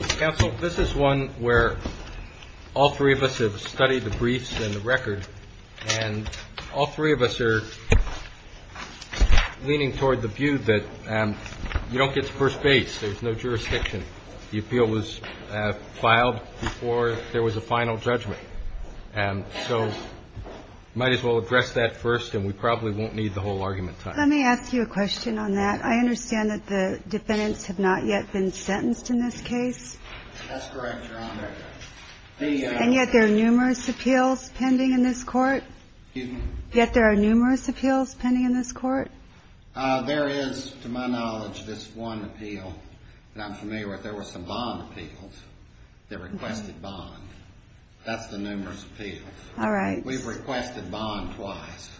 Council, this is one where all three of us have studied the briefs and the record, and all three of us are leaning toward the view that you don't get to first base, there's no jurisdiction, the appeal was filed before there was a final judgment. So might as well address that first, and we probably won't need the whole argument time. Let me ask you a question on that. I understand that the defendants have not yet been sentenced in this case. That's correct, Your Honor. And yet there are numerous appeals pending in this court? Excuse me? Yet there are numerous appeals pending in this court? There is, to my knowledge, this one appeal that I'm familiar with. There were some bond appeals that requested bond. That's the numerous appeals. All right. We've requested bond twice,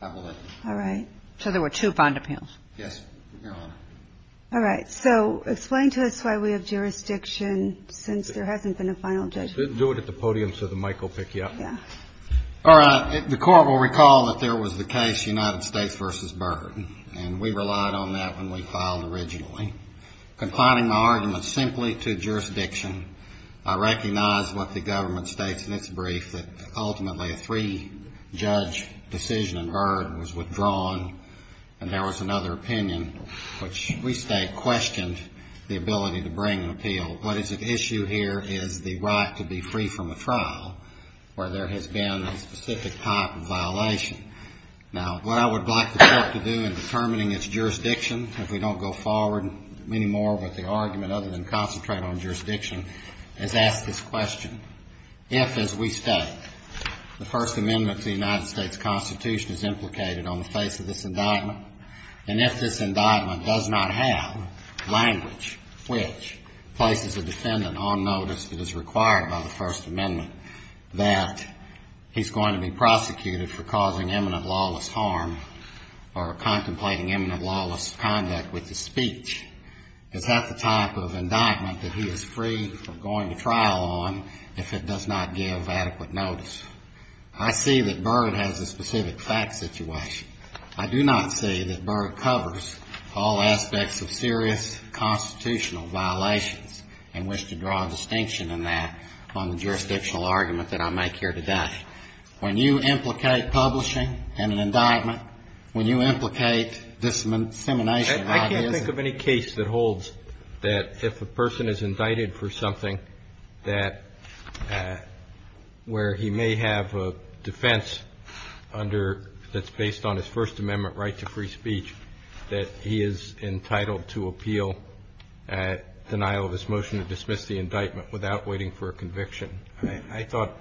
I believe. All right. So there were two bond appeals. Yes, Your Honor. All right. So explain to us why we have jurisdiction since there hasn't been a final judgment. Do it at the podium so the mic will pick you up. Yeah. All right. The Court will recall that there was the case United States v. Byrd, and we relied on that when we filed originally. Confining my argument simply to jurisdiction, I recognize what the government states in its brief, that ultimately a three-judge decision in Byrd was without withdrawal, and there was another opinion which we state questioned the ability to bring an appeal. What is at issue here is the right to be free from a trial where there has been a specific type of violation. Now, what I would like the Court to do in determining its jurisdiction, if we don't go forward any more with the argument other than concentrate on the face of this indictment, and if this indictment does not have language which places a defendant on notice that is required by the First Amendment, that he's going to be prosecuted for causing imminent lawless harm or contemplating imminent lawless conduct with his speech, is that the type of indictment that he is free from going to trial on if it does not give adequate notice? I see that Byrd has a specific fact situation. I do not see that Byrd covers all aspects of serious constitutional violations and wish to draw a distinction in that on the jurisdictional argument that I make here today. When you implicate publishing in an indictment, when you implicate dissemination of ideas of the public, a person is indicted for something that where he may have a defense under that's based on his First Amendment right to free speech that he is entitled to appeal at denial of his motion to dismiss the indictment without waiting for a conviction. I thought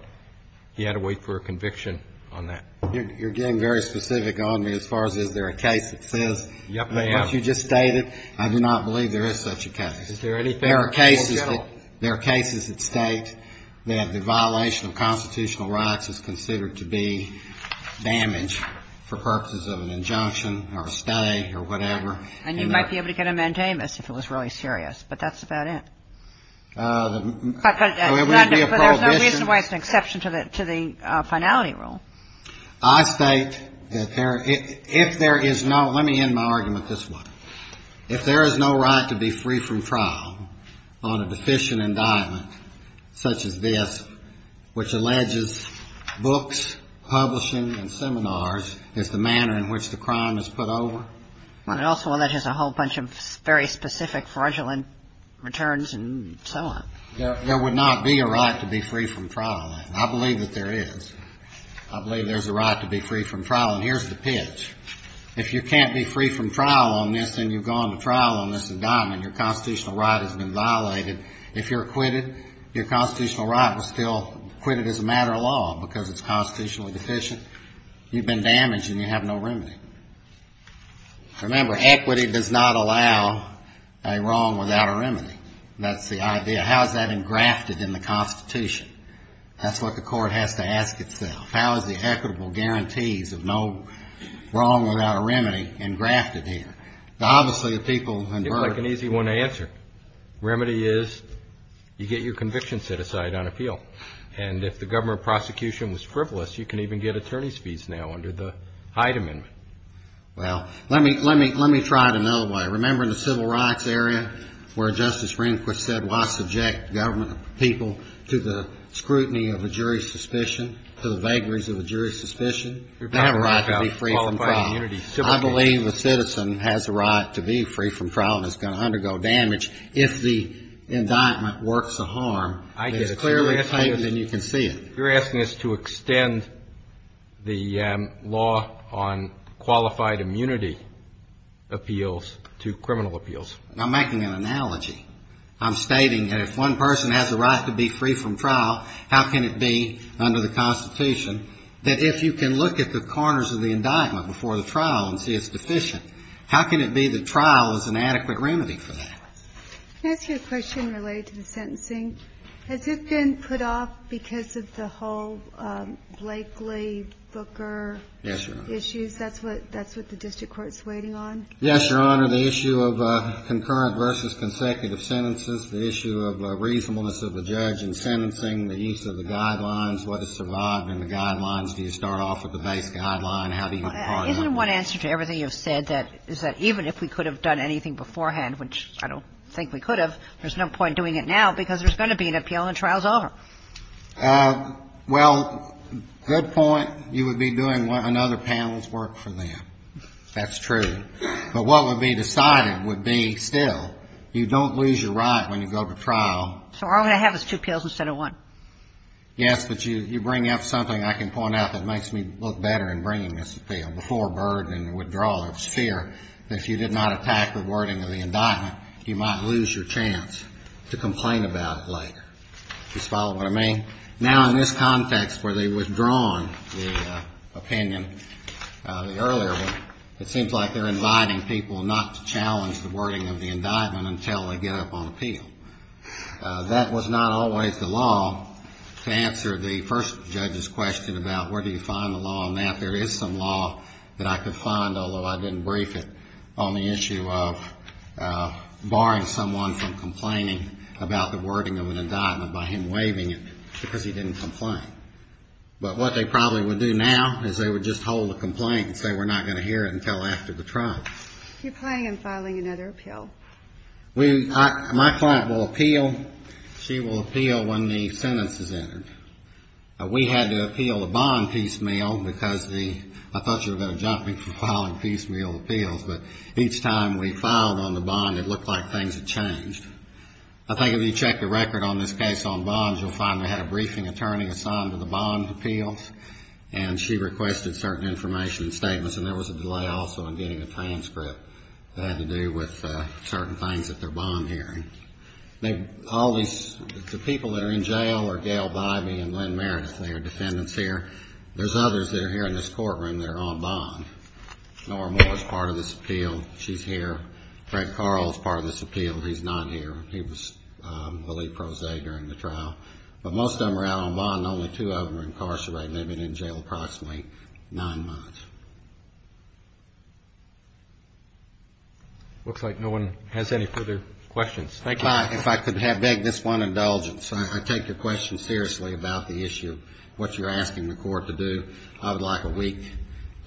he had to wait for a conviction on that. You're getting very specific on me as far as is there a case that says what you just stated. I do not believe there is such a case. There are cases that state that the violation of constitutional rights is considered to be damage for purposes of an injunction or a stay or whatever. And you might be able to get a mandamus if it was really serious, but that's about it. There would be a prohibition. But there's no reason why it's an exception to the finality rule. I state that if there is no, let me end my argument this way. If there is no right to be free from trial on a deficient indictment such as this, which alleges books, publishing, and seminars is the manner in which the crime is put over. Well, it also alleges a whole bunch of very specific fraudulent returns and so on. There would not be a right to be free from trial. I believe that there is. I believe there's a right to be free from trial. And here's the pitch. If you can't be free from trial on this and you've gone to trial on this indictment, your constitutional right has been violated. If you're acquitted, your constitutional right was still acquitted as a matter of law because it's constitutionally deficient. You've been damaged and you have no remedy. Remember, equity does not allow a wrong without a remedy. That's the idea. How is that engrafted in the Constitution? That's what the court has to ask itself. How is the equitable guarantees of no wrong without a remedy engrafted here? Now, obviously, the people in burden. It's like an easy one to answer. Remedy is you get your conviction set aside on appeal. And if the government prosecution was frivolous, you can even get attorney's fees now under the Hyde Amendment. Well, let me try it another way. Remember in the civil rights area where Justice Rehnquist said why subject government people to the scrutiny of a jury's suspicion, to the vagaries of a jury's suspicion? They have a right to be free from trial. I believe a citizen has a right to be free from trial and is going to undergo damage. If the indictment works a harm, it's clearly stated and you can see it. You're asking us to extend the law on qualified immunity appeals to criminal appeals. I'm making an analogy. I'm stating that if one person has a right to be free from trial, how can it be under the Constitution that if you can look at the corners of the indictment before the trial and see it's deficient, how can it be the trial is an adequate remedy for that? Can I ask you a question related to the sentencing? Has it been put off because of the whole Blakely, Booker issues? Yes, Your Honor. That's what the district court is waiting on? Yes, Your Honor. The issue of concurrent versus consecutive sentences. The issue of reasonableness of the judge in sentencing. The use of the guidelines. What is survived in the guidelines? Do you start off with the base guideline? How do you impart it? Isn't one answer to everything you've said that is that even if we could have done anything beforehand, which I don't think we could have, there's no point in doing it now because there's going to be an appeal and the trial is over? Well, good point. You would be doing what another panel's work for them. That's true. But what would be decided would be still, you don't lose your right when you go to trial. So all I have is two appeals instead of one. Yes, but you bring up something I can point out that makes me look better in bringing this appeal. Now, in this context where they've withdrawn the opinion, the earlier one, it seems like they're inviting people not to challenge the wording of the indictment until they get up on appeal. That was not always the law to answer the first judge's question about where do you find the law on that. There is some law that I could find, although I didn't brief it, on the issue of barring someone from complaining about the wording of an indictment by him waiving it because he didn't complain. But what they probably would do now is they would just hold a complaint and say we're not going to hear it until after the trial. You're planning on filing another appeal? My client will appeal. She will appeal when the sentence is entered. We had to appeal the bond piecemeal because the, I thought you were going to jump me for filing piecemeal appeals. But each time we filed on the bond, it looked like things had changed. I think if you check the record on this case on bonds, you'll find we had a briefing attorney assigned to the bond appeals. And she requested certain information and statements. And there was a delay also in getting a transcript that had to do with certain things at their bond hearing. All these, the people that are in jail are Gail Bybee and Lynn Meredith. They are defendants here. There's others that are here in this courtroom that are on bond. Nora Moore is part of this appeal. She's here. Fred Carl is part of this appeal. He's not here. He was the lead prosaic during the trial. But most of them are out on bond. Only two of them are incarcerated. They've been in jail approximately nine months. It looks like no one has any further questions. Thank you. If I could beg this one indulgence. I take your question seriously about the issue, what you're asking the court to do. I would like a week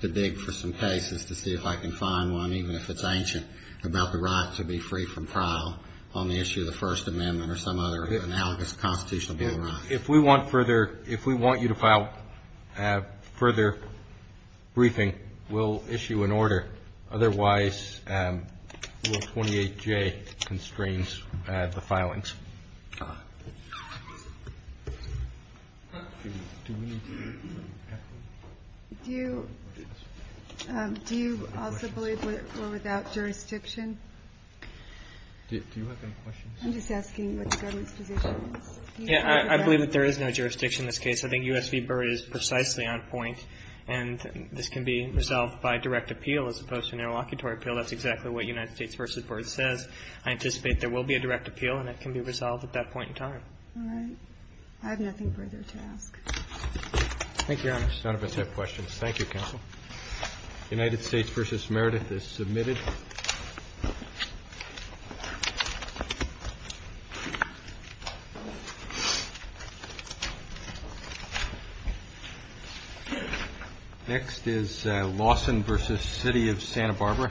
to dig for some cases to see if I can find one, even if it's ancient, about the right to be free from trial on the issue of the First Amendment or some other analogous constitutional amendment. If we want further, if we want you to file further briefing, we'll issue an order. Otherwise, 28J constrains the filings. Do you also believe we're without jurisdiction? Do you have any questions? I'm just asking what the government's position is. Yeah, I believe that there is no jurisdiction in this case. I think U.S. v. Burr is precisely on point. And this can be resolved by direct appeal as opposed to an interlocutory appeal. That's exactly what United States v. Burr says. I anticipate there will be a direct appeal, and it can be resolved at that point in time. All right. I have nothing further to ask. Thank you, Your Honor. None of us have questions. Thank you, counsel. United States v. Meredith is submitted. Next is Lawson v. City of Santa Barbara. Thank you.